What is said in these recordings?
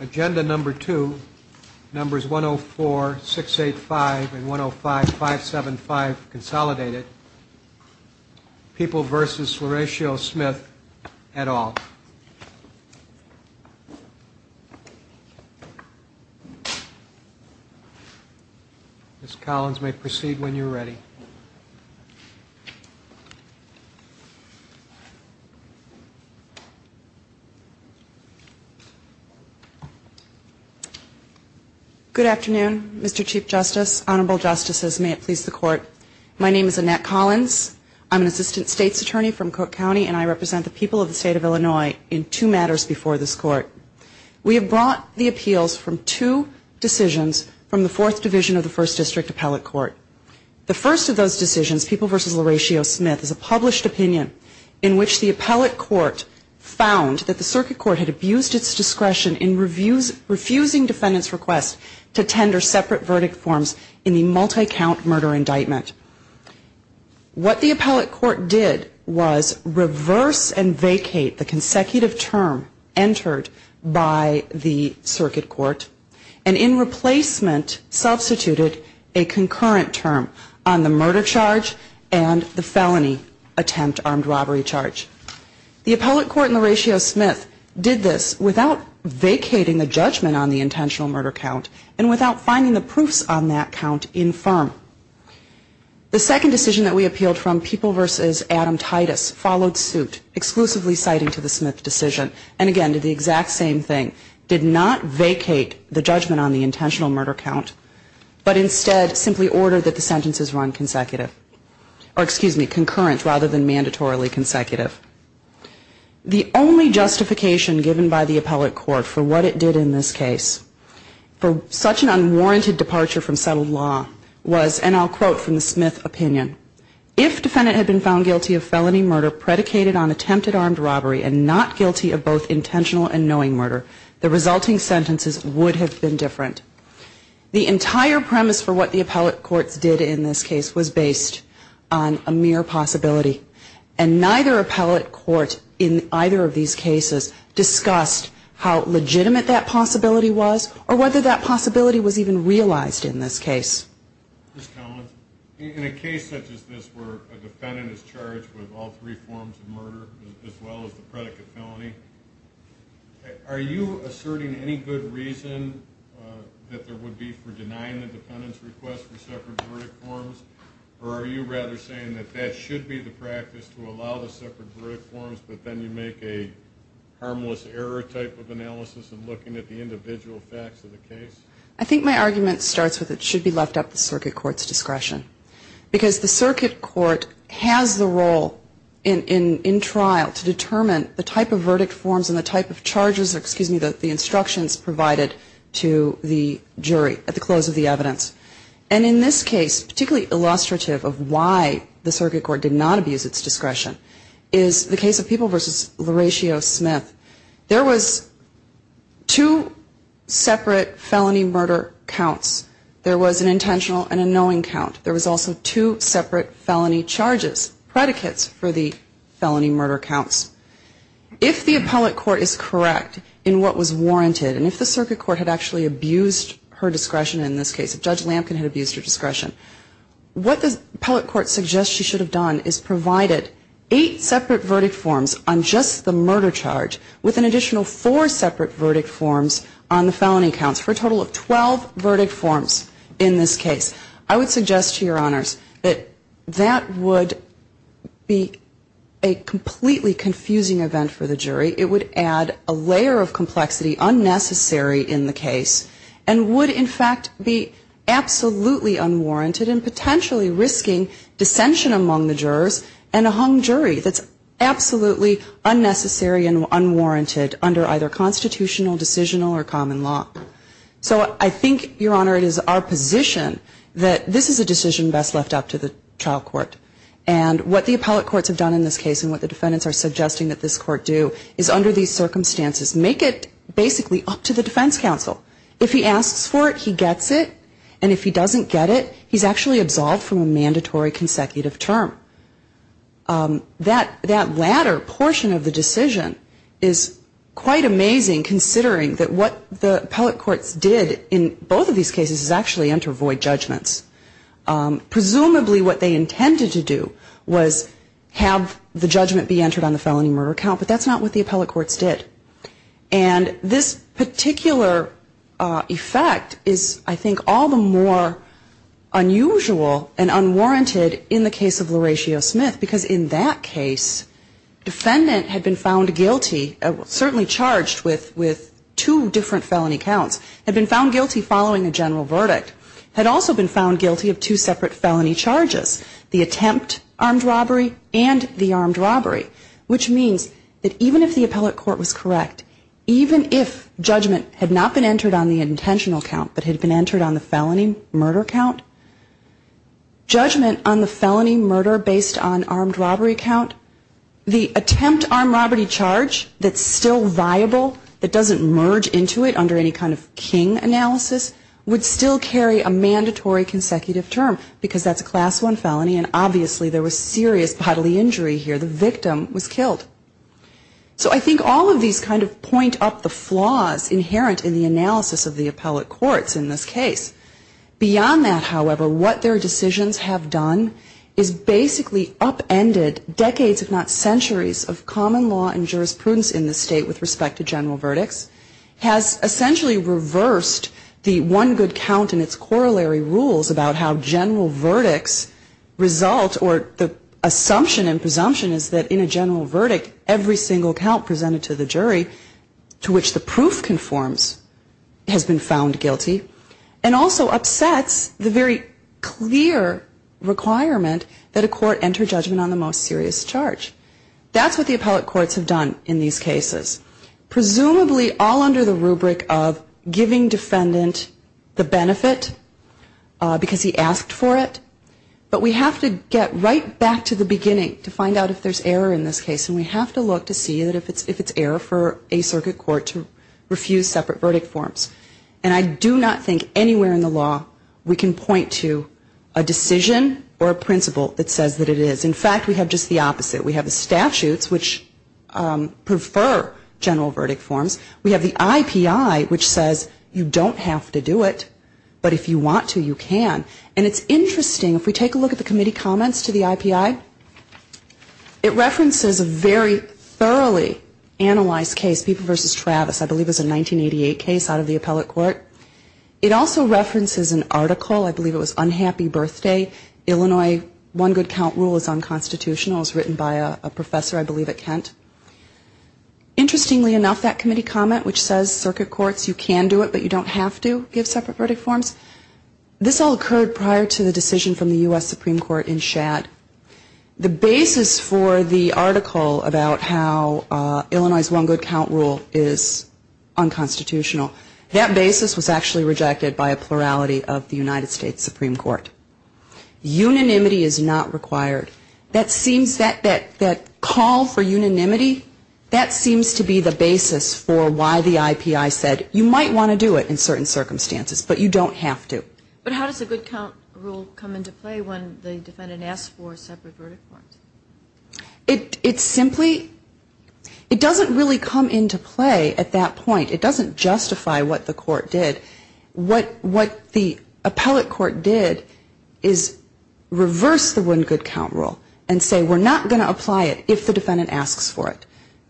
Agenda number two. Numbers 104, 685 and 105, 575 consolidated. People versus Horatio Smith et al. Ms. Collins may proceed when you're ready. Good afternoon, Mr. Chief Justice, Honorable Justices, may it please the Court. My name is Annette Collins. I'm an Assistant State's Attorney from Cook County and I represent the people of the State of Illinois in two matters before this Court. We have brought the appeals from two decisions from the Fourth Division of the First District Appellate Court. The first of those decisions, People v. Horatio Smith, is a published opinion in which the Appellate Court found that the Circuit Court had abused its discretion in refusing defendants' requests to tender separate verdict forms in the multi-count murder indictment. What the Appellate Court did was reverse and vacate the consecutive term entered by the Circuit Court and in replacement substituted a concurrent term on the murder charge and the felony attempt armed robbery charge. The Appellate Court and Horatio Smith did this without vacating the judgment on the intentional murder count and without finding the proofs on that count in firm. The second decision that we appealed from, People v. Adam Titus, followed suit exclusively citing to the Smith decision and again did the exact same thing, did not vacate the judgment on the intentional murder count but instead simply ordered that the sentences run consecutive or excuse me, concurrent rather than mandatorily consecutive. The only justification given by the Appellate Court for what it did in this case for such an unwarranted departure from settled law was, and I'll quote from the Smith opinion, if defendant had been found guilty of felony murder predicated on attempted armed robbery and not guilty of both intentional and knowing murder, the resulting sentences would have been different. The entire premise for what the Appellate Courts did in this case was based on a mere possibility. And neither Appellate Court in either of these cases discussed how legitimate that possibility was or whether that possibility was even realized in this case. Mr. Collins, in a case such as this where a defendant is charged with all three forms of murder as well as the predicate felony, are you asserting any good reason that there should be separate verdict forms or are you rather saying that that should be the practice to allow the separate verdict forms but then you make a harmless error type of analysis in looking at the individual facts of the case? I think my argument starts with it should be left at the Circuit Court's discretion. Because the Circuit Court has the role in trial to determine the type of verdict forms and the type of charges, excuse me, the instructions provided to the jury at the close of the evidence. And in this case, particularly illustrative of why the Circuit Court did not abuse its discretion, is the case of People v. LaRachio-Smith. There was two separate felony murder counts. There was an intentional and a knowing count. There was also two separate felony charges, predicates for the felony murder counts. If the Appellate Court is correct in what was warranted and if the Circuit Court had actually abused her discretion in this case, if Judge Lampkin had abused her discretion, what the Appellate Court suggests she should have done is provided eight separate verdict forms on just the murder charge with an additional four separate verdict forms on the felony counts for a total of 12 verdict forms in this case. I would suggest to your honors that that would be a completely confusing event for the jury. It would add a layer of complexity unnecessary in the case and would, in fact, be absolutely unwarranted and potentially risking dissension among the jurors and a hung jury that's absolutely unnecessary and unwarranted under either constitutional, decisional or common law. So I think, your honor, it is our position that this is a decision best left up to the trial court. And what the Appellate Courts have done in this case and what the defendants are suggesting that this court do is under these circumstances make it basically up to the defense counsel. If he asks for it, he gets it. And if he doesn't get it, he's actually absolved from a mandatory consecutive term. That latter portion of the decision is quite amazing considering that what the Appellate Courts did in both of these cases is actually enter void judgments. Presumably what they intended to do was have the judgment be entered on the felony murder count, but that's not what the Appellate Courts did. And this particular effect is, I think, all the more unusual and unwarranted in the case of LaRachio Smith because in that case, defendant had been found guilty, certainly charged with two different felony counts, had been found guilty following a two separate felony charges, the attempt armed robbery and the armed robbery, which means that even if the Appellate Court was correct, even if judgment had not been entered on the intentional count but had been entered on the felony murder count, judgment on the felony murder based on armed robbery count, the attempt armed robbery charge that's still viable, that doesn't merge into it under any kind of king analysis, would still carry a mandatory consecutive term because that's a class one felony and obviously there was serious bodily injury here. The victim was killed. So I think all of these kind of point up the flaws inherent in the analysis of the Appellate Courts in this case. Beyond that, however, what their decisions have done is basically upended decades, if not decades, essentially reversed the one good count and its corollary rules about how general verdicts result or the assumption and presumption is that in a general verdict, every single count presented to the jury to which the proof conforms has been found guilty and also upsets the very clear requirement that a court enter judgment on the most serious charge. That's what the Appellate Courts have done in these cases. Presumably all under the rubric of giving defendant the benefit because he asked for it, but we have to get right back to the beginning to find out if there's error in this case and we have to look to see if it's error for a circuit court to refuse separate verdict forms. And I do not think anywhere in the law we can point to a decision or a principle that says that it is. In fact, we have just the opposite. We have statutes which prefer general verdict forms. We have the IPI which says you don't have to do it, but if you want to, you can. And it's interesting, if we take a look at the committee comments to the IPI, it references a very thoroughly analyzed case, Peeper v. Travis, I believe it was a 1988 case out of the Appellate Court. It also references an article, I believe it was Unhappy Birthday, Illinois One Good Count Rule is Unconstitutional. It was written by a judge. Interestingly enough, that committee comment which says circuit courts, you can do it, but you don't have to give separate verdict forms, this all occurred prior to the decision from the U.S. Supreme Court in Shad. The basis for the article about how Illinois One Good Count Rule is unconstitutional, that basis was actually rejected by a plurality of the United States Supreme Court. Unanimity is not required. That seems, that call for unanimity is unconstitutional. That seems to be the basis for why the IPI said you might want to do it in certain circumstances, but you don't have to. But how does the good count rule come into play when the defendant asks for a separate verdict form? It's simply, it doesn't really come into play at that point. It doesn't justify what the court did. What the Appellate Court did is reverse the one good count rule and say we're not going to apply it if the defendant asks for it.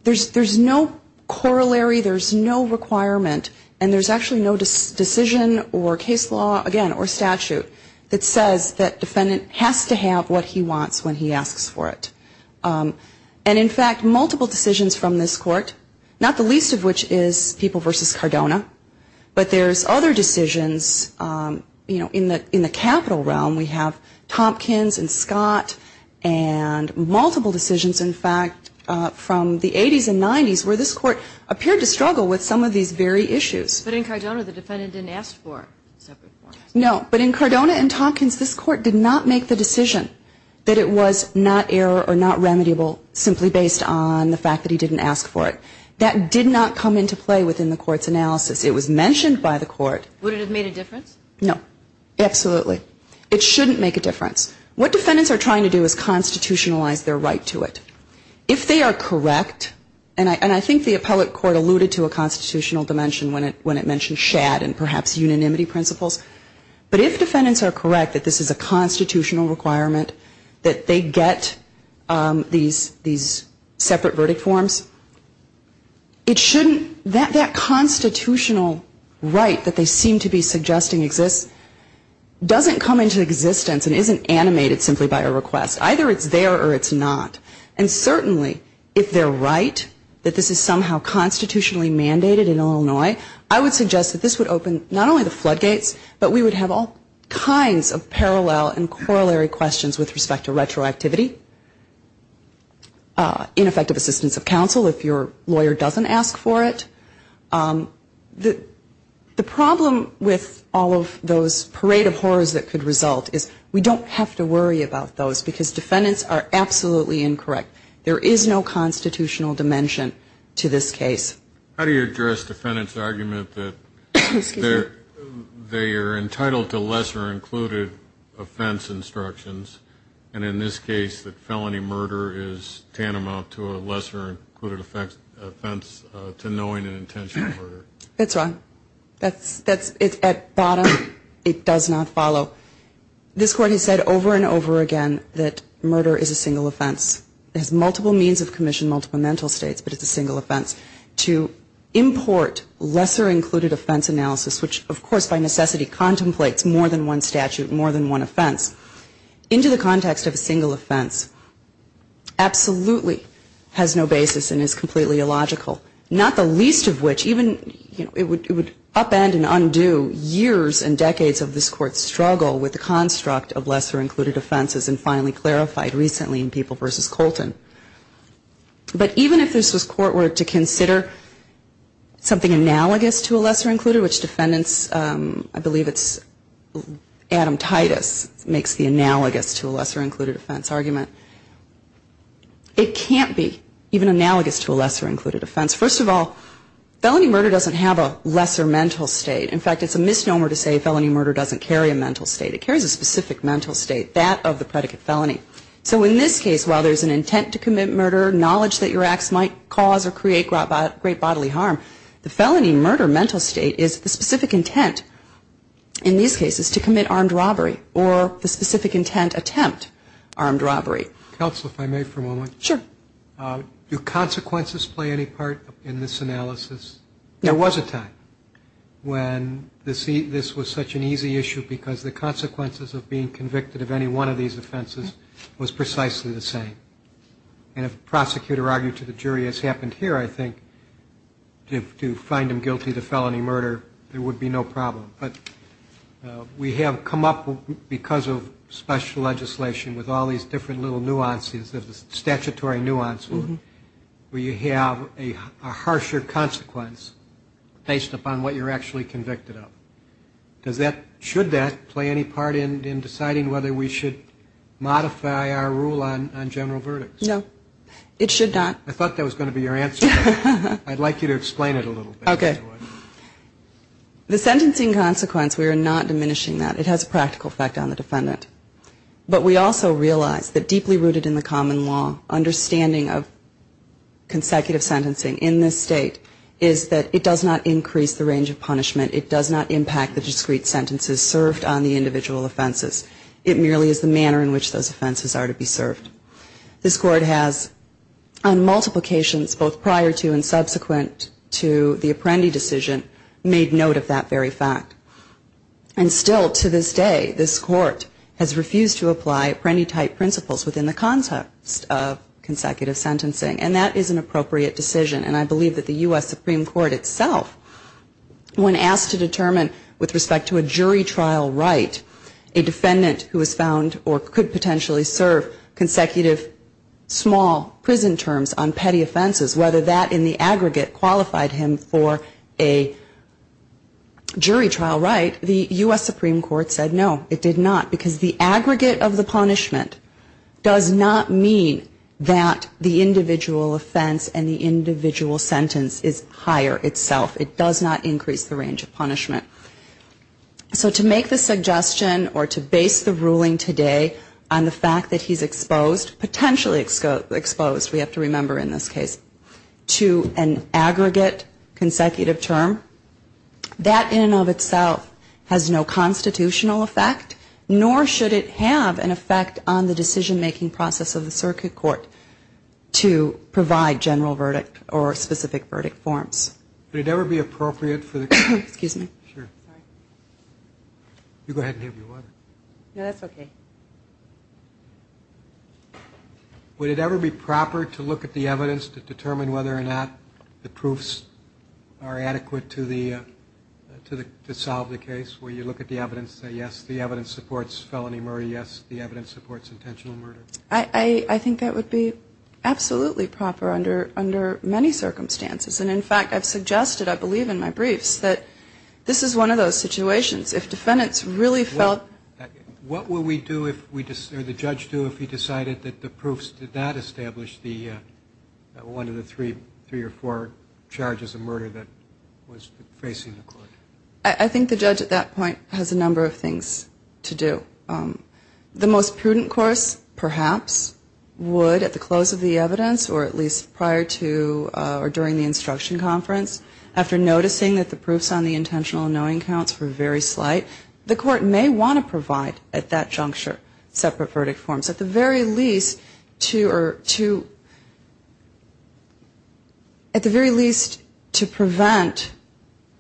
So there's no corollary, there's no requirement, and there's actually no decision or case law, again, or statute that says that defendant has to have what he wants when he asks for it. And in fact, multiple decisions from this court, not the least of which is People v. Cardona, but there's other decisions, you know, in the capital realm. We have Tompkins and Scott and Cardona, multiple decisions, in fact, from the 80s and 90s, where this court appeared to struggle with some of these very issues. But in Cardona, the defendant didn't ask for a separate form. No. But in Cardona and Tompkins, this court did not make the decision that it was not error or not remediable simply based on the fact that he didn't ask for it. That did not come into play within the court's analysis. It was mentioned by the court. Would it have made a difference? No. Absolutely. It shouldn't make a difference. What defendants are trying to do is constitutionalize their right to it. If they are correct, and I think the appellate court alluded to a constitutional dimension when it mentioned shad and perhaps unanimity principles, but if defendants are correct that this is a constitutional requirement, that they get these separate verdict forms, it exists, doesn't come into existence and isn't animated simply by a request. Either it's there or it's not. And certainly, if they're right, that this is somehow constitutionally mandated in Illinois, I would suggest that this would open not only the floodgates, but we would have all kinds of parallel and corollary questions with respect to retroactivity, ineffective assistance of counsel if your case is not constitutional. The problem with all of those parade of horrors that could result is we don't have to worry about those because defendants are absolutely incorrect. There is no constitutional dimension to this case. How do you address defendants' argument that they are entitled to lesser included offense instructions and in this case that felony murder is tantamount to a lesser included offense to knowing and intentional murder? That's wrong. At bottom, it does not follow. This Court has said over and over again that murder is a single offense. It has multiple means of commission, multiple mental states, but it's a single offense. To import lesser included offense analysis, which of course by necessity contemplates more than one statute, more than one offense, into the context of a single offense, absolutely has no basis and is completely illogical, not the least of which even it would upend and undo years and decades of this Court's struggle with the construct of lesser included offenses and finally clarified recently in People v. Colton. But even if this Court were to consider something analogous to a lesser included, which defendants, I believe it's Adam Titus makes the analogous to a lesser included offense argument, it can't be even analogous to a lesser included offense. First of all, felony murder doesn't have a lesser mental state. In fact, it's a misnomer to say felony murder doesn't carry a mental state. It carries a specific mental state, that of the predicate felony. So in this case, while there's an intent to commit murder, knowledge that your acts might cause or create great bodily harm, the felony murder mental state is the specific intent in these cases. So it's not a specific intent attempt armed robbery. Counsel, if I may for a moment. Sure. Do consequences play any part in this analysis? There was a time when this was such an easy issue because the consequences of being convicted of any one of these offenses was precisely the same. And if a prosecutor argued to the jury as happened here, I think, to find him guilty to felony murder, there would be no problem. But we have come up, because of special legislation, with all these different little nuances, statutory nuances, where you have a harsher consequence based upon what you're actually convicted of. Should that play any part in deciding whether we should modify our rule on general verdicts? No, it should not. I thought that was going to be your answer. I'd like you to explain it a little bit. Okay. The sentencing consequence, we are not diminishing that. It has a practical effect on the defendant. But we also realize that deeply rooted in the common law understanding of consecutive sentencing in this state is that it does not increase the range of punishment. It does not impact the discrete sentences served on the individual offenses. It merely is the manner in which those offenses are to be served. This Court has, on multiple occasions, both prior to and subsequent to the Apprendi decision, made note of that very fact. And still, to this day, this Court has refused to apply Apprendi-type principles within the context of consecutive sentencing. And that is an appropriate decision. And I believe that the U.S. Supreme Court itself, when asked to determine with respect to a jury trial right, a defendant who was found or could potentially serve consecutive small prison terms on petty offenses, whether that in the aggregate qualified him for a jury trial right, the U.S. Supreme Court said no, it did not. Because the aggregate of the punishment does not mean that the individual offense and the individual sentence is higher itself. It does not increase the range of punishment. So to make the suggestion or to base the ruling today on the fact that he's exposed, potentially exposed, we have to remember in this case, to an aggregate consecutive term, that in and of itself has no constitutional effect, nor should it have an effect on the decision-making process of the circuit court to provide general verdict or specific verdict forms. Would it ever be appropriate to look at the evidence to determine whether or not the proofs are adequate to the, to solve the case? Will you look at the evidence and say, yes, the evidence supports felony murder, yes, the evidence supports intentional murder? I think that would be absolutely proper under many circumstances. And in fact, I've seen evidence that the evidence supports felony murder. And I've suggested, I believe in my briefs, that this is one of those situations. If defendants really felt What would we do if we, or the judge do if he decided that the proofs did not establish the, one of the three, three or four charges of murder that was facing the court? I think the judge at that point has a number of things to do. The most prudent course, perhaps, would at the close of the evidence or at least prior to or during the instruction conference, after noticing that the proofs on the intentional knowing counts were very slight, the court may want to provide at that juncture separate verdict forms. At the very least to, or to, at the very least to prevent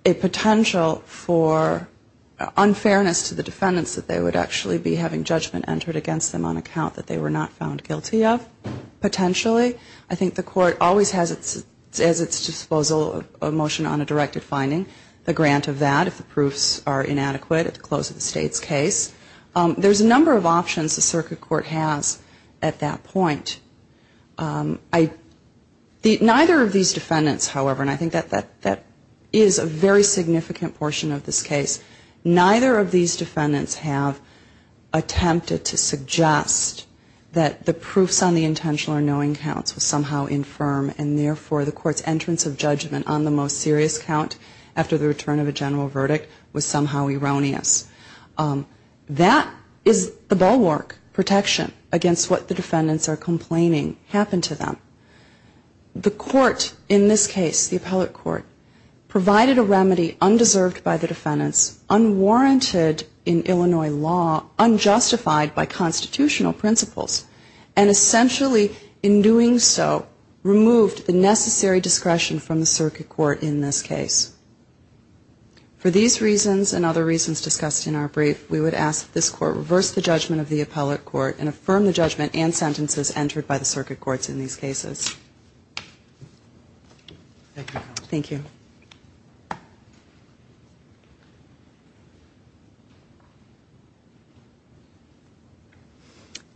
a potential for unfairness to the defendants that they would actually be having judgment entered against them on account that they were not found guilty of, potentially. I think the court always has at its disposal a motion on a directed finding, a grant of that if the proofs are inadequate at the close of the state's case. There's a number of options the circuit court has at that point. Neither of these defendants, however, and I think that that is a very significant portion of this case, neither of these defendants have attempted to suggest that the proofs on the intentional or knowing counts are somehow infirm and therefore the court's entrance of judgment on the most serious count after the return of a general verdict was somehow erroneous. That is the bulwark protection against what the defendants are complaining happened to them. The court in this case, the appellate court, provided a remedy undeserved by the defendants, unwarranted in Illinois law, unjustified by constitutional principles, and essentially in doing so removed the necessary discretion from the circuit court in this case. For these reasons and other reasons discussed in our brief, we would ask that this court reverse the judgment of the appellate court and affirm the judgment and sentences entered by the circuit courts in these cases. Thank you.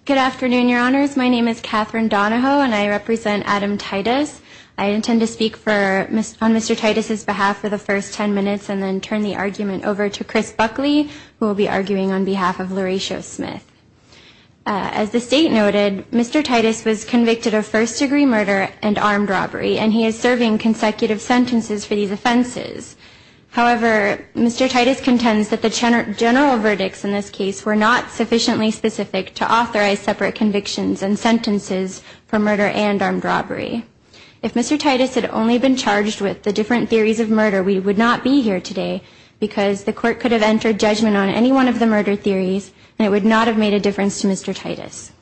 Good afternoon, Your Honors. My name is Catherine Donahoe and I represent Adam Titus. I intend to speak on Mr. Titus' behalf for the first 10 minutes and then turn the argument over to Chris Buckley, who will be arguing on behalf of LaRachia Smith. As the state noted, Mr. Titus was convicted of murder and armed robbery, and he was charged with murder and armed robbery. However, Mr. Titus contends that the general verdicts in this case were not sufficiently specific to authorize separate convictions and sentences for murder and armed robbery. If Mr. Titus had only been charged with the different theories of murder, we would not be here today because the court could have entered judgment on any one of the murder theories and it would not have made a difference to Mr. Titus.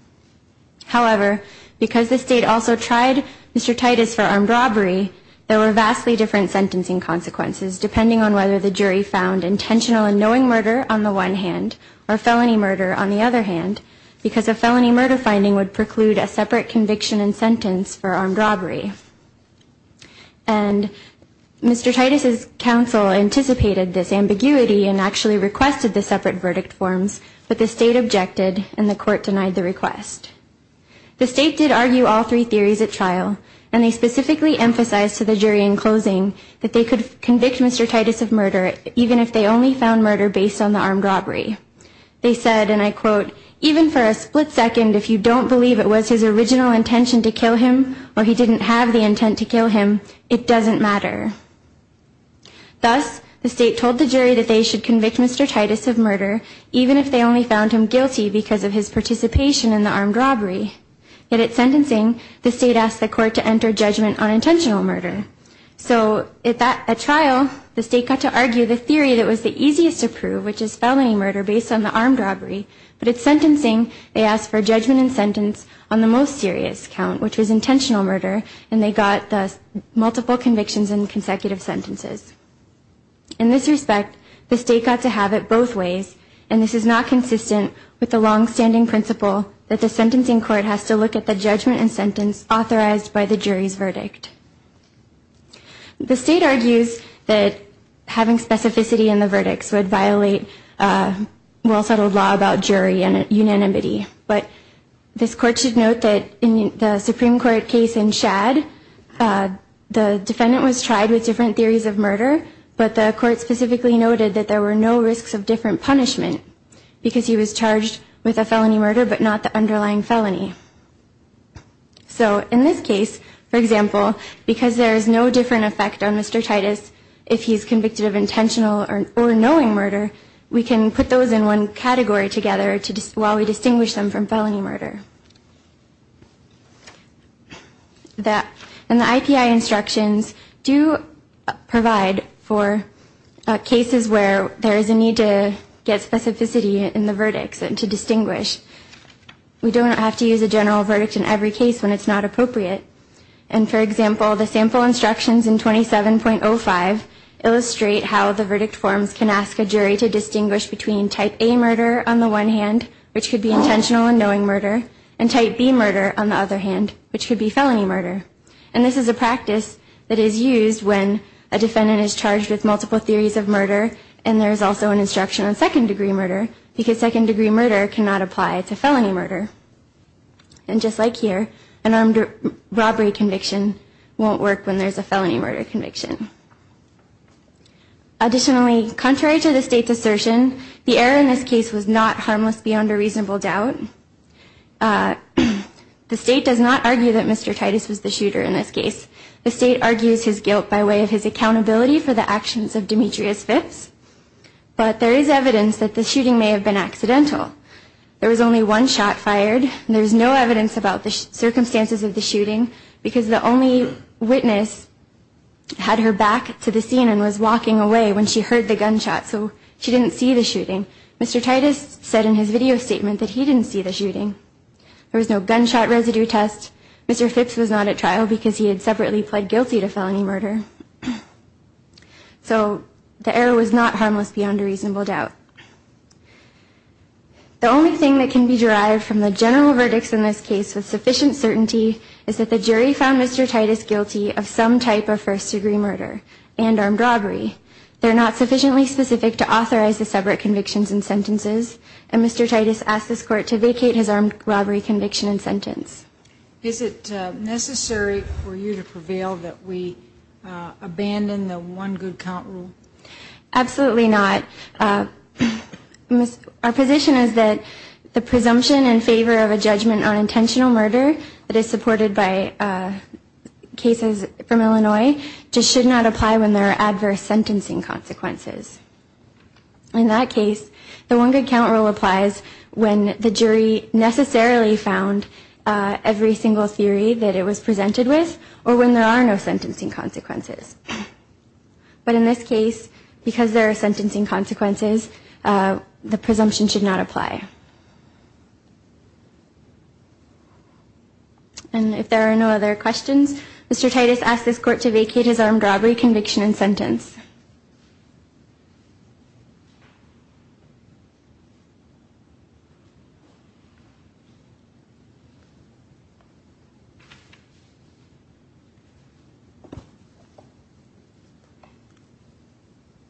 However, because the state also tried Mr. Titus for armed robbery, there were vastly different sentencing consequences, depending on whether the jury found intentional and knowing murder on the one hand or felony murder on the other hand, because a felony murder finding would preclude a separate conviction and sentence for armed robbery. And Mr. Titus' counsel anticipated this and the court denied the request. The state did argue all three theories at trial, and they specifically emphasized to the jury in closing that they could convict Mr. Titus of murder even if they only found murder based on the armed robbery. They said, and I quote, even for a split second if you don't believe it was his original intention to kill him or he didn't have the intent to kill him, it doesn't matter. Thus, the state told the jury that they should convict Mr. Titus of murder even if they only found him guilty because of his participation in the armed robbery. Yet at sentencing, the state asked the court to enter judgment on intentional murder. So at trial, the state got to argue the theory that was the easiest to prove, which is felony murder based on the armed robbery. But at sentencing, they asked for judgment and sentence on the most serious count, which was intentional murder, and they got the multiple convictions and consecutive sentences. In this respect, the court decided that Mr. Titus of murder was not guilty. The state got to have it both ways, and this is not consistent with the longstanding principle that the sentencing court has to look at the judgment and sentence authorized by the jury's verdict. The state argues that having specificity in the verdicts would violate a well-settled law about jury unanimity, but this court should note that in the Supreme Court case in Shad, the defendant was tried with a felony murder, but not the underlying felony. So in this case, for example, because there is no different effect on Mr. Titus if he's convicted of intentional or knowing murder, we can put those in one category together while we distinguish them from felony murder. And the IPI instructions do provide for cases where there is a need to get specificity in the verdicts and to distinguish. We don't have to use a general verdict in every case when it's not appropriate. And for example, the sample instructions in 27.05 illustrate how the verdict forms can ask a jury to distinguish between type A murder on the one hand, which could be intentional and knowing murder, and type B murder on the other hand, which could be felony murder. And this is a practice that is used when a defendant is charged with multiple theories of murder, and there's also an instruction on second degree murder, because second degree murder cannot apply to felony murder. And just like here, an armed robbery conviction won't work when there's a felony murder conviction. Additionally, contrary to the state's assertion, the error in this case was not harmless beyond a reasonable doubt. The state does not argue that Mr. Titus was the shooter in this case. The state argues his guilt by way of his accountability for the actions of Demetrius Phipps, but there is evidence that the shooting may have been accidental. There was only one shot fired, and there's no evidence about the circumstances of the shooting, because the only witness had her back to the scene and was there. Mr. Phipps said in his video statement that he didn't see the shooting. There was no gunshot residue test. Mr. Phipps was not at trial, because he had separately pled guilty to felony murder. So the error was not harmless beyond a reasonable doubt. The only thing that can be derived from the general verdicts in this case with sufficient certainty is that the jury found Mr. Titus guilty of some type of first degree murder and armed robbery. They're not sufficiently specific to authorize the separate convictions and sentences, and the jury found Mr. Titus guilty of some type of first degree murder. And Mr. Titus asked this court to vacate his armed robbery conviction and sentence. Is it necessary for you to prevail that we abandon the one good count rule? Absolutely not. Our position is that the presumption in favor of a judgment on intentional murder that is supported by cases from Illinois just should not apply when there are adverse sentencing consequences. In that case, the one good count rule applies when the jury necessarily found every single theory that it was presented with, or when there are no sentencing consequences. But in this case, because there are sentencing consequences, the presumption should not apply. And if there are no other questions, Mr. Titus asked this court to vacate his armed robbery conviction and sentence. Thank you.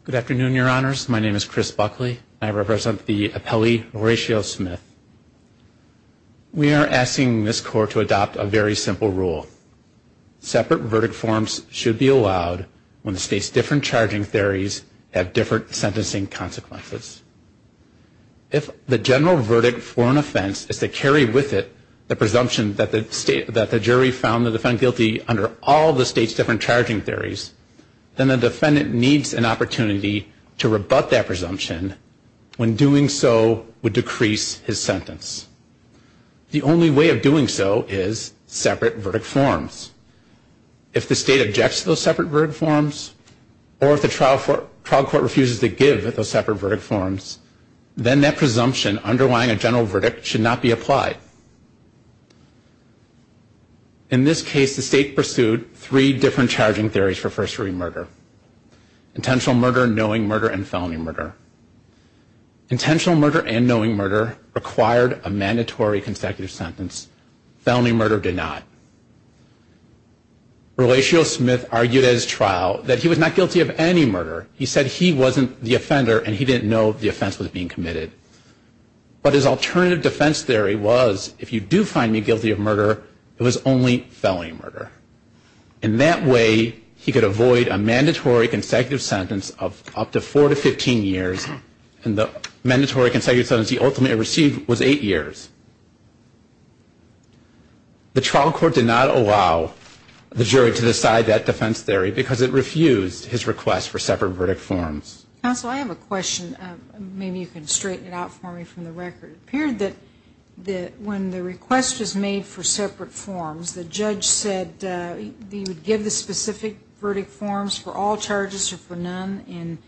Good afternoon, Your Honors. My name is Chris Buckley, and I represent the appellee Horatio Smith. We are asking this court to adopt a very simple rule. Separate verdict forms should be allowed when the state's different charging theories have different sentencing consequences. If the general verdict for an offense is to carry with it the presumption that the jury found the defendant guilty under all the state's different charging theories, then the defendant needs an opportunity to rebut that presumption when doing so would decrease his sentence. The only way of doing so is separate verdict forms. If the state objects to those separate verdict forms, or if the trial court refuses to give those separate verdict forms, then that presumption underlying a general verdict should not be applied. In this case, the state pursued three different charging theories for first-degree murder. Intentional murder, knowing murder, and felony murder. Intentional murder and knowing murder required a mandatory consecutive sentence. Felony murder did not. Horatio Smith argued at his trial that he was not guilty of any murder. He said he wasn't the offender, and he didn't know the offense was being committed. But his alternative defense theory was, if you do find me guilty of murder, it was only felony murder. In that way, he could avoid a mandatory consecutive sentence of up to four to 15 years, and the mandatory consecutive sentence he ultimately received was eight years. The trial court did not allow the jury to decide that defense theory, because it refused his request for separate verdict forms. Counsel, I have a question. Maybe you can straighten it out for me from the record. It appeared that when the request was made for separate forms, the judge said that he would give the specific verdict forms for all charges or for no charges, and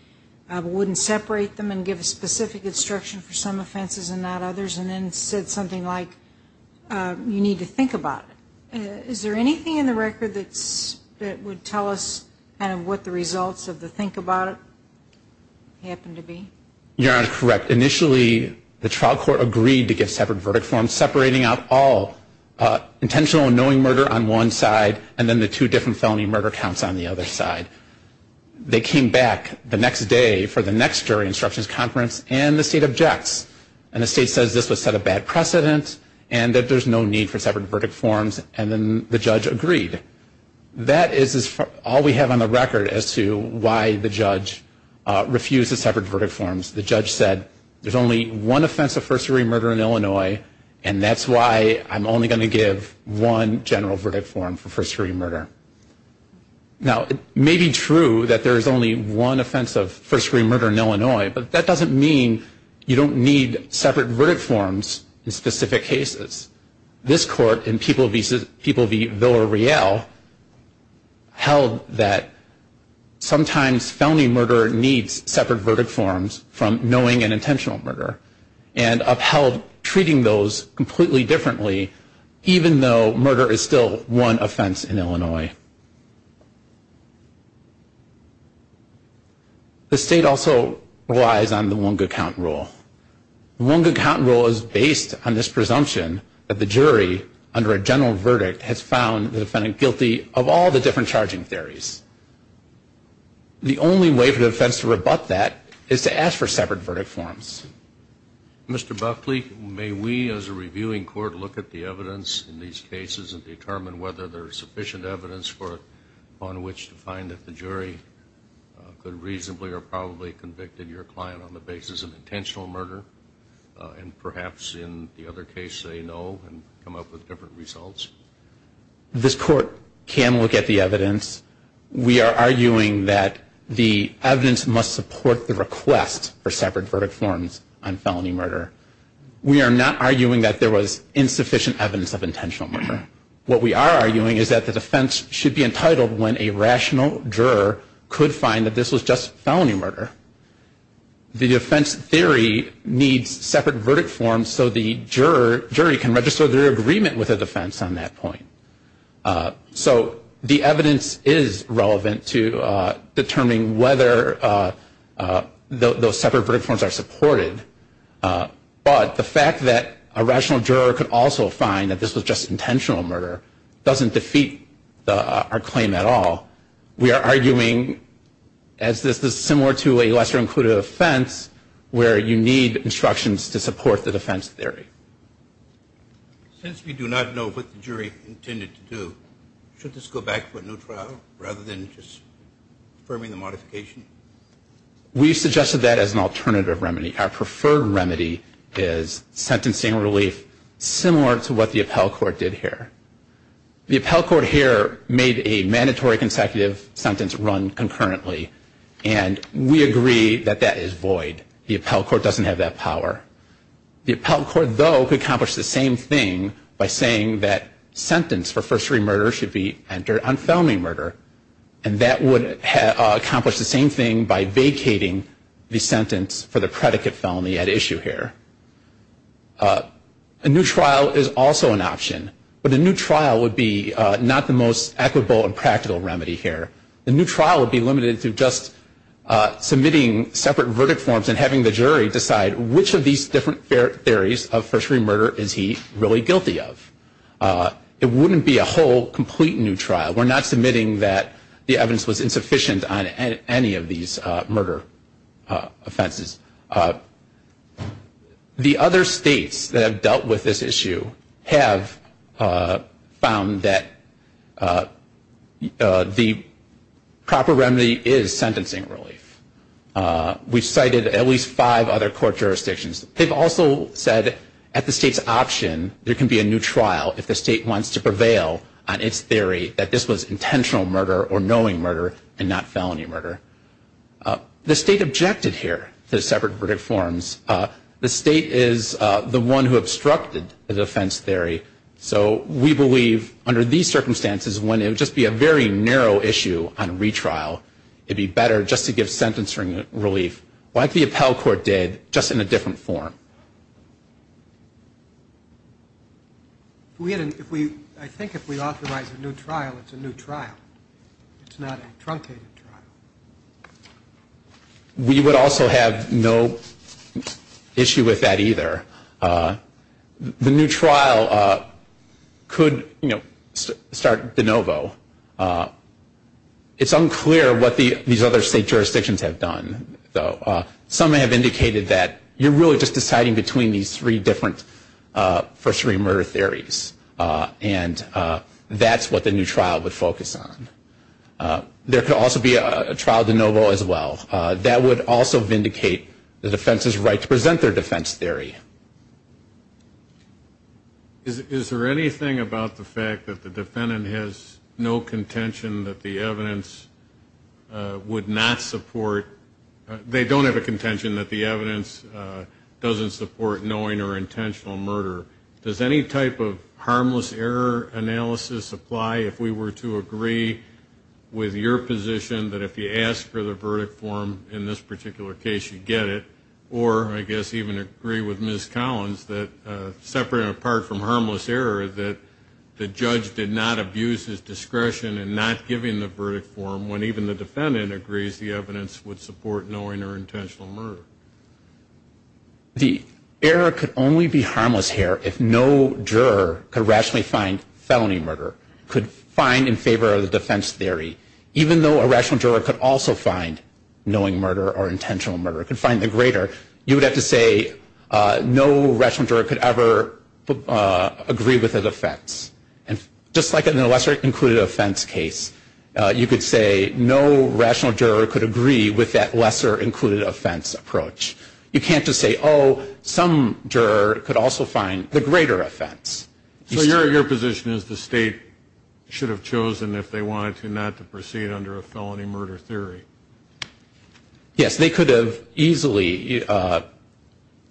that he would separate them and give a specific instruction for some offenses and not others, and then said something like, you need to think about it. Is there anything in the record that would tell us kind of what the results of the think about it happened to be? You're correct. Initially, the trial court agreed to give separate verdict forms, separating out all intentional and knowing murder on one side, and then the two different felony murder counts on the other side. They came back to the trial court and said, okay, we'll give you back the next day for the next jury instructions conference, and the state objects, and the state says this was set a bad precedent, and that there's no need for separate verdict forms, and then the judge agreed. That is all we have on the record as to why the judge refused the separate verdict forms. The judge said, there's only one offense of first degree murder in Illinois, and that's why I'm only going to give one general verdict form for first degree murder. Now, it may be true that there's only one offense of first degree murder in Illinois, but that doesn't mean you don't need separate verdict forms in specific cases. This court in People v. Villareal held that sometimes felony murder needs separate verdict forms from knowing an intentional murder, and upheld treating those completely differently, even though murder is still one offense in Illinois. The state also relies on the Wunga count rule. The Wunga count rule is based on this presumption that the jury, under a general verdict, has found the defendant guilty of all the different charging theories. The only way for the defense to rebut that is to ask for separate verdict forms. Mr. Buckley, may we as a reviewing court look at the evidence in these cases and determine whether there's sufficient evidence on which to find that the jury could reasonably or probably have convicted your client on the basis of intentional murder, and perhaps in the other case say no and come up with different results? This court can look at the evidence. We are arguing that the evidence must support the request for separate verdict forms. We are not arguing that there was insufficient evidence of intentional murder. What we are arguing is that the defense should be entitled when a rational juror could find that this was just felony murder. The defense theory needs separate verdict forms so the jury can register their agreement with the defense on that point. So the evidence is relevant to determining whether those separate verdict forms are supported. But the fact that a rational juror could also find that this was just intentional murder doesn't defeat our claim at all. We are arguing, as this is similar to a lesser-included offense, where you need instructions to support the defense theory. Since we do not know what the jury intended to do, should this go back to a new trial rather than just affirming the modification? We suggested that as an alternative remedy. Our preferred remedy is sentencing relief similar to what the appellate court did here. The appellate court here made a mandatory consecutive sentence run concurrently, and we agree that that is void. The appellate court doesn't have that power. The appellate court, though, could accomplish the same thing by saying that sentence for first-degree murder should be entered on felony murder, and that would accomplish the same thing by vacating the sentence for the predicate felony at issue here. A new trial is also an option, but a new trial would be not the most equitable and practical remedy here. The new trial would be limited to just submitting separate verdict forms and having the jury decide which of these different theories of first-degree murder is he really guilty of. It wouldn't be a whole, complete new trial. We're not submitting that the evidence was insufficient on any of these murder offenses. The other states that have dealt with this issue have found that the proper remedy is sentencing relief. We've cited at least five other court jurisdictions. They've also said at the state's option there can be a new trial if the state wants to prevail on its theory that this was intentional murder or knowing murder and not felony murder. The state objected here to separate verdict forms. The state is the one who obstructed the defense theory, so we believe under these circumstances, when it would just be a very narrow issue on retrial, it would be better just to give sentencing relief, like the appellate court did, just in a different form. We had an, if we, I think if we authorize a new trial, it's a new trial. It's not a truncated trial. We would also have no issue with that either. The new trial could, you know, start de novo. It's unclear what these other state jurisdictions have done, though. Some have indicated that you're really just deciding between these three different first-degree murder theories. And that's what the new trial would focus on. There could also be a trial de novo as well. That would also vindicate the defense's right to present their defense theory. Is there anything about the fact that the defendant has no contention that the evidence would not support, they don't have any sort of contention that the evidence doesn't support knowing or intentional murder? Does any type of harmless error analysis apply? If we were to agree with your position that if you ask for the verdict form in this particular case, you get it, or I guess even agree with Ms. Collins that, separate and apart from harmless error, that the judge did not abuse his discretion in not giving the verdict form when even the defendant agrees the evidence would support knowing or intentional murder. The error could only be harmless here if no juror could rationally find felony murder, could find in favor of the defense theory, even though a rational juror could also find knowing murder or intentional murder, could find the greater, you would have to say no rational juror could ever agree with the defense. And just like in a lesser included offense case, you could say no rational juror could agree with that lesser included offense approach. You can't just say, oh, some juror could also find the greater offense. So your position is the state should have chosen if they wanted to not to proceed under a felony murder theory? Yes, they could have easily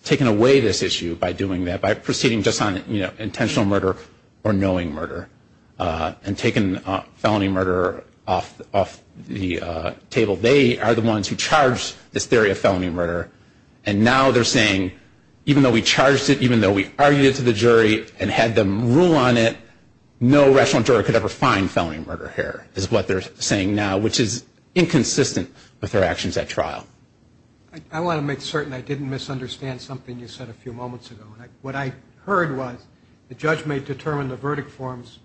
taken away this issue by doing that, by proceeding just on intentional murder or knowing murder and taking felony murder off the table. They are the ones who charged this theory of felony murder. And now they're saying, even though we charged it, even though we argued it to the jury and had them rule on it, no rational juror could ever find felony murder here is what they're saying now, which is inconsistent with their actions at trial. I want to make certain I didn't misunderstand something you said a few moments ago. What I heard was the judge may determine the verdict forms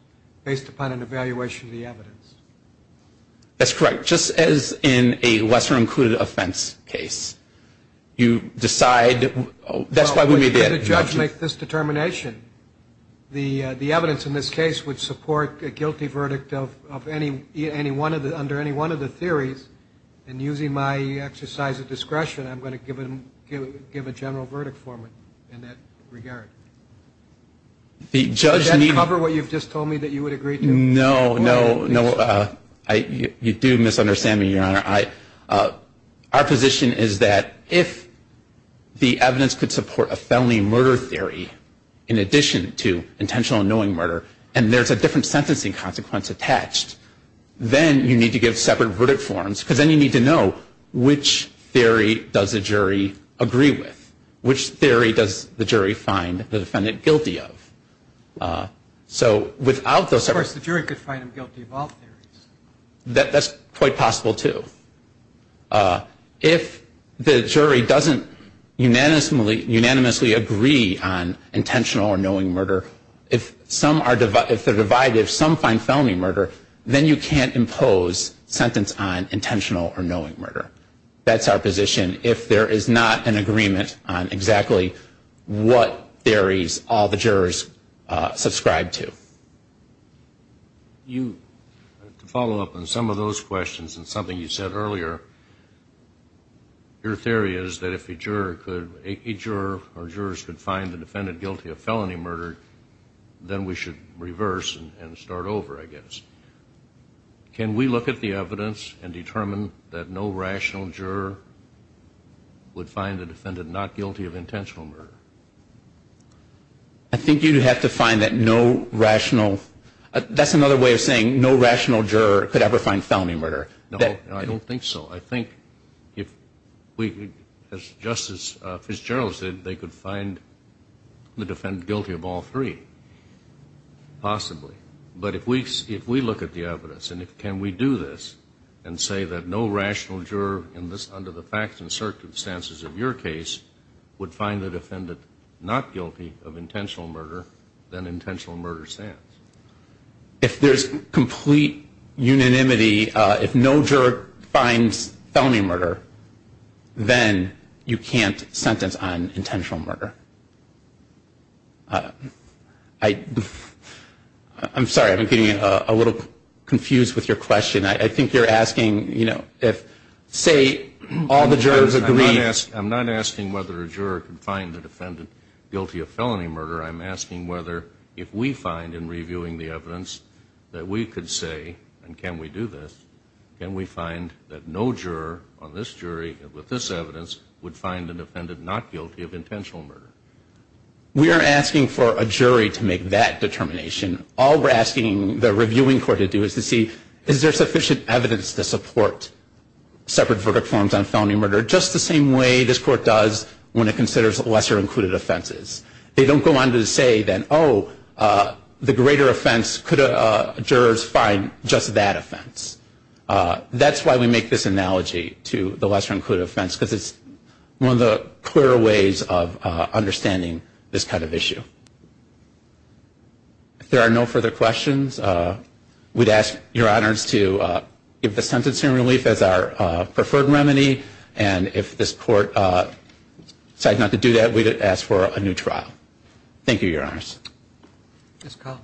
based upon an evaluation of the evidence. That's correct. Just as in a lesser included offense case, you decide that's why we made it. The judge make this determination. The evidence in this case would support a guilty verdict of any one of the under any one of the theories. And using my exercise of discretion, I'm going to give him give a general verdict for me in that regard. The judge may cover what you've just told me that you would agree. No, no, no. You do misunderstand me, Your Honor. Our position is that if the evidence could support a felony murder theory in addition to intentional annoying murder, and there's a different sentencing consequence attached, then you need to give separate verdict forms because then you need to know which theory does the jury agree with, which theory does the jury find the defendant guilty of. Of course, the jury could find him guilty of all theories. That's quite possible, too. If the jury doesn't unanimously agree on intentional or annoying murder, if they're divided, if some find felony murder, then you can't impose sentence on intentional or annoying murder. That's our position. If there is not an agreement on exactly what theories all the jurors subscribe to. To follow up on some of those questions and something you said earlier, your theory is that if a juror or jurors could find the defendant guilty of felony murder, then we should reverse and start over, I guess. Can we look at the evidence and determine that no rational juror would find the defendant not guilty of intentional murder? I think you'd have to find that no rational. That's another way of saying no rational juror could ever find felony murder. No, I don't think so. I think if we, as Justice Fitzgerald said, they could find the defendant guilty of all three, possibly. But if we look at the evidence and can we do this and say that no rational juror under the facts and circumstances of your case would find the defendant not guilty of intentional murder, then intentional murder stands. If there's complete unanimity, if no juror finds felony murder, then you can't sentence on intentional murder. I'm sorry, I'm getting a little confused with your question. I think you're asking if, say, all the jurors agree. I'm not asking whether a juror can find the defendant guilty of felony murder. I'm asking whether if we find in reviewing the evidence that we could say, and can we do this, can we find that no juror on this jury with this evidence would find the defendant not guilty of intentional murder. We are asking for a jury to make that determination. All we're asking the reviewing court to do is to see is there sufficient evidence to support separate verdict forms on felony murder, just the same way this court does when it considers lesser included offenses. They don't go on to say that, oh, the greater offense, could jurors find just that offense. That's why we make this analogy to the lesser included offense, because it's one of the clearer ways of understanding this kind of issue. If there are no further questions, we'd ask Your Honors to give the sentencing relief as our preferred remedy, and if this court decides not to do that, we'd ask for a new trial. Thank you, Your Honors. Ms. Collins.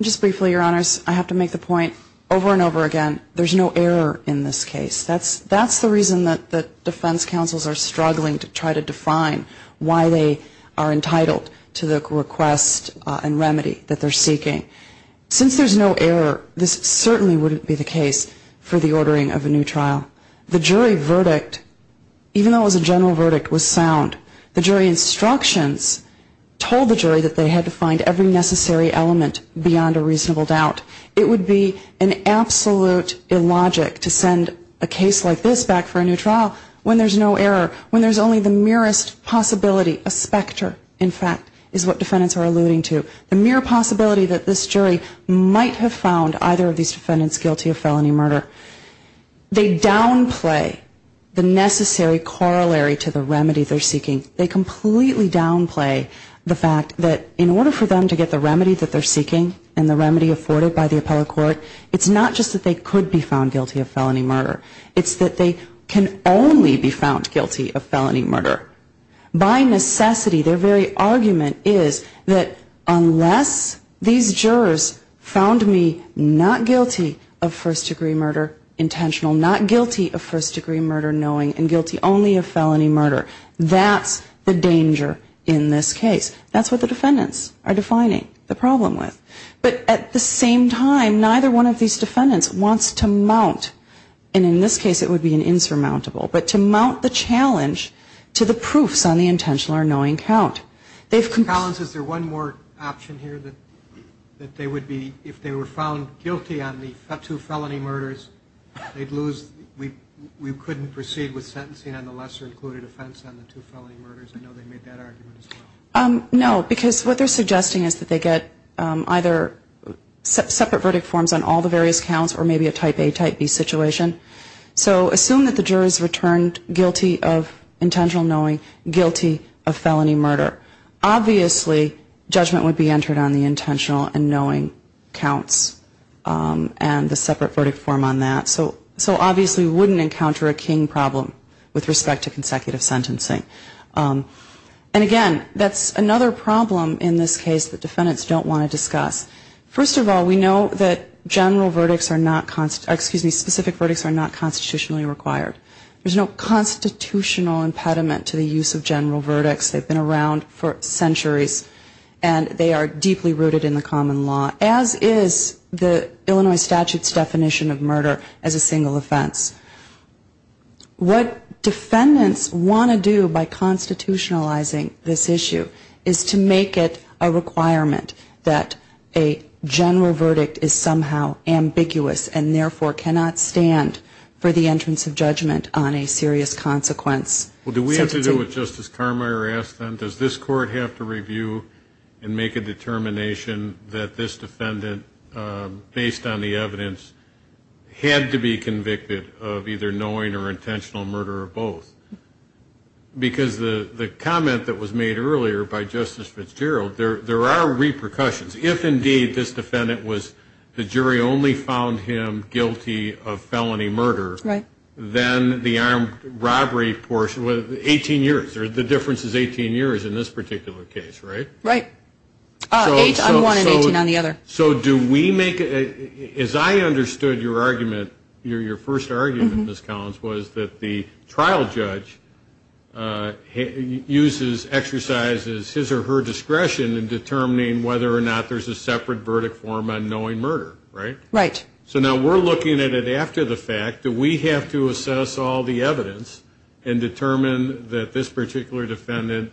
Just briefly, Your Honors, I have to make the point over and over again, there's no error in this case. That's the reason that defense counsels are struggling to try to define why they are entitled to the request and remedy that they're seeking. Since there's no error, this certainly wouldn't be the case for the ordering of a new trial. The jury verdict, even though it was a general verdict, was sound. The jury instructions told the jury that they had to find every necessary element beyond a reasonable doubt. It would be an absolute illogic to send a case like this back for a new trial when there's no error, when there's only the merest possibility, a specter, in fact, is what defendants are alluding to. The mere possibility that this jury might have found either of these defendants guilty of felony murder. They downplay the necessary corollary to the remedy they're seeking. They completely downplay the fact that in order for them to get the remedy that they need to get by the appellate court, it's not just that they could be found guilty of felony murder. It's that they can only be found guilty of felony murder. By necessity, their very argument is that unless these jurors found me not guilty of first-degree murder intentional, not guilty of first-degree murder knowing, and guilty only of felony murder, that's the danger in this case. That's what the defendants are defining the problem with. But at the same time, neither one of these defendants wants to mount, and in this case it would be an insurmountable, but to mount the challenge to the proofs on the intentional or knowing count. Collins, is there one more option here that they would be, if they were found guilty on the two felony murders, they'd lose, we couldn't proceed with sentencing on the lesser included offense on the two felony murders? I know they made that argument as well. No, because what they're suggesting is that they get either separate verdict forms on all the various counts or maybe a type A, type B situation. So assume that the jurors returned guilty of intentional knowing, guilty of felony murder. Obviously, judgment would be entered on the intentional and knowing counts and the separate verdict form on that. So obviously we wouldn't encounter a king problem with respect to consecutive sentencing. And again, that's another problem in this case that defendants don't want to discuss. First of all, we know that general verdicts are not, excuse me, specific verdicts are not constitutionally required. There's no constitutional impediment to the use of general verdicts. They've been around for centuries and they are deeply rooted in the common law, as is the Illinois statute's definition of murder as a single offense. What defendants want to do by constitutionalizing this issue is to make it a requirement that a general verdict is somehow ambiguous and, therefore, cannot stand for the entrance of judgment on a serious consequence. Well, do we have to do what Justice Carmeier asked then? Does this court have to review and make a determination that this defendant, based on the evidence, had to be convicted of either knowing or intentional murder or both? Because the comment that was made earlier by Justice Fitzgerald, there are repercussions. If, indeed, this defendant was, the jury only found him guilty of felony murder, then the armed robbery portion, 18 years, the difference is 18 years in this particular case, right? Right. I'm one and 18 on the other. So do we make, as I understood your argument, your first argument, Ms. Collins, was that the trial judge uses, exercises his or her discretion in determining whether or not there's a separate verdict form on knowing murder, right? Right. So now we're looking at it after the fact. Do we have to assess all the evidence and determine that this particular defendant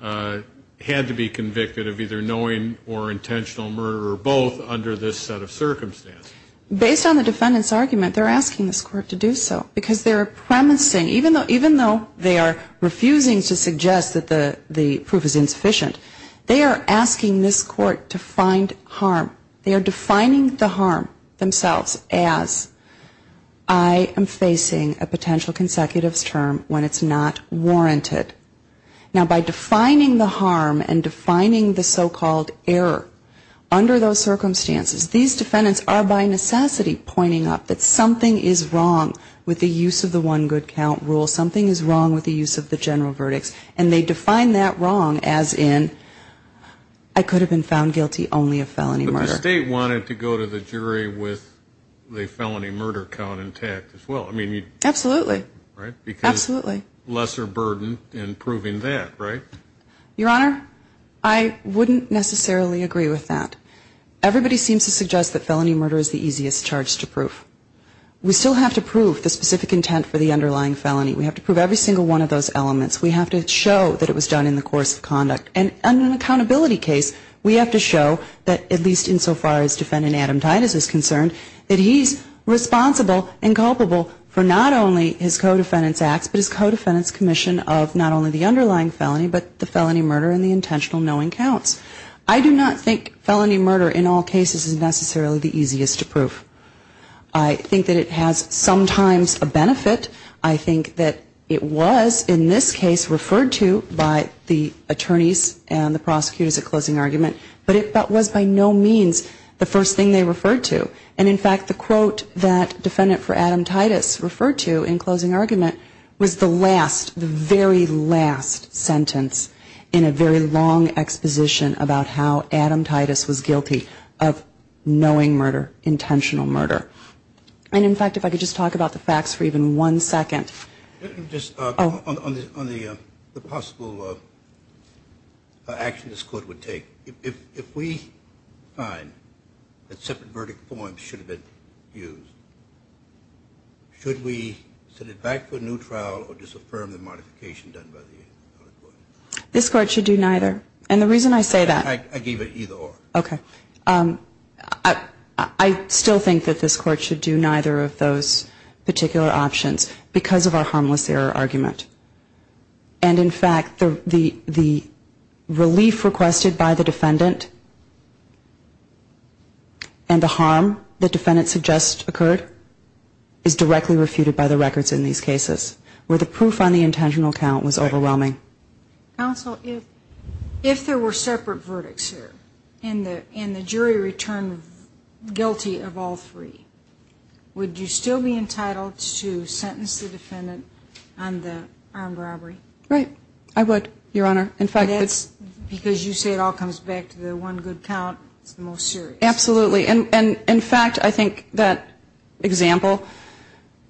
had to be convicted of either knowing or intentional murder or both under this set of circumstances? Based on the defendant's argument, they're asking this court to do so. Because they're promising, even though they are refusing to suggest that the proof is insufficient, they are asking this court to find harm. They are defining the harm themselves as I am facing a potential consecutive term when it's not warranted. Now, by defining the harm and defining the so-called error, under those circumstances, these defendants are by necessity pointing out that something is wrong with the use of the one good count rule. Something is wrong with the use of the general verdicts. And they define that wrong as in I could have been found guilty only of felony murder. But the state wanted to go to the jury with the felony murder count intact as well. I mean, you. Absolutely. Right? Absolutely. Lesser burden in proving that, right? Your Honor, I wouldn't necessarily agree with that. Everybody seems to suggest that felony murder is the easiest charge to prove. We still have to prove the specific intent for the underlying felony. We have to prove every single one of those elements. We have to show that it was done in the course of conduct. And in an accountability case, we have to show that, at least insofar as defendant Adam Titus is concerned, that he's responsible and culpable for not only his co-defendant's acts, but his co-defendant's commission of not only the underlying felony, but the felony murder and the intentional knowing counts. I do not think felony murder in all cases is necessarily the easiest to prove. I think that it has sometimes a benefit. I think that it was in this case referred to by the attorneys and the prosecutors at closing argument, but it was by no means the first thing they referred to. And, in fact, the quote that defendant for Adam Titus referred to in closing argument was the last, the very last sentence in a very long exposition about how Adam Titus was guilty of knowing murder, intentional murder. And, in fact, if I could just talk about the facts for even one second. Just on the possible action this Court would take. If we find that separate verdict forms should have been used, should we send it back for a new trial or disaffirm the modification done by the other court? This Court should do neither. And the reason I say that. I gave it either or. Okay. I still think that this Court should do neither of those particular options because of our harmless error argument. And, in fact, the relief requested by the defendant and the harm the defendant suggests occurred is directly refuted by the records in these cases where the proof on the intentional count was overwhelming. Counsel, if there were separate verdicts here and the jury returned guilty of all three, would you still be entitled to sentence the defendant on the armed robbery? Right. I would, Your Honor. In fact, it's. Because you say it all comes back to the one good count. It's the most serious. Absolutely. And, in fact, I think that example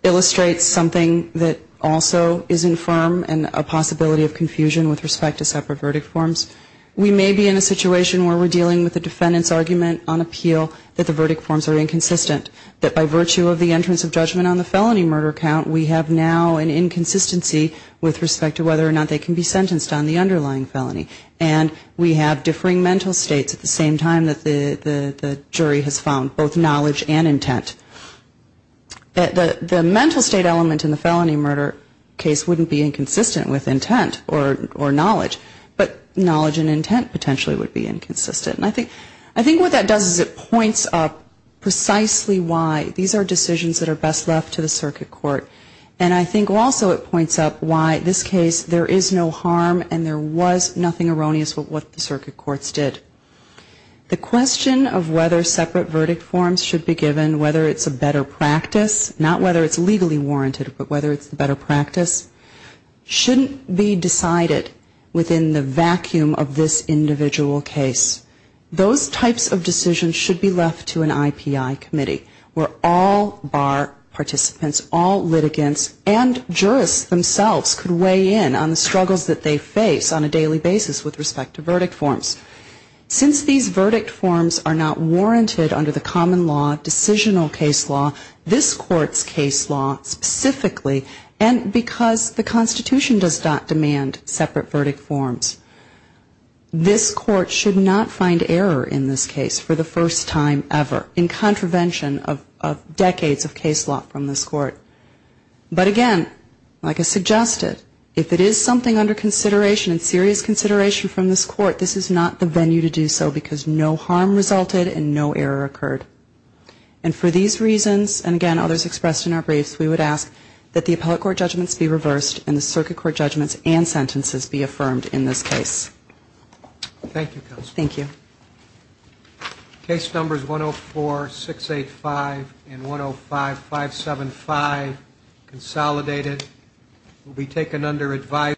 illustrates something that also is infirm and a possibility of confusion with respect to separate verdict forms. We may be in a situation where we're dealing with a defendant's argument on appeal that the verdict forms are inconsistent. That by virtue of the entrance of judgment on the felony murder count, we have now an inconsistency with respect to whether or not they can be sentenced on the underlying felony. And we have differing mental states at the same time that the jury has found both knowledge and intent. The mental state element in the felony murder case wouldn't be inconsistent with intent or knowledge, but knowledge and intent potentially would be inconsistent. And I think what that does is it points up precisely why these are decisions that are best left to the circuit court. And I think also it points up why in this case there is no harm and there was nothing erroneous with what the circuit courts did. The question of whether separate verdict forms should be given, whether it's a better practice, not whether it's legally warranted, but whether it's a better practice, shouldn't be decided within the vacuum of this individual case. Those types of decisions should be left to an IPI committee where all bar participants, all litigants, and jurists themselves could weigh in on the struggles that they face on a daily basis with respect to verdict forms. Since these verdict forms are not warranted under the common law decisional case law, this court's case law specifically, and because the Constitution does not demand separate verdict forms, this court should not find error in this case for the first time ever in contravention of decades of case law from this court. But again, like I suggested, if it is something under consideration and serious consideration from this court, this is not the venue to do so because no harm resulted and no error occurred. And for these reasons, and again, others expressed in our briefs, we would ask that the appellate court judgments be reversed and the circuit court judgments and sentences be affirmed in this case. Thank you, Counselor. Thank you. Case numbers 104-685 and 105-575, consolidated, will be taken under advisory.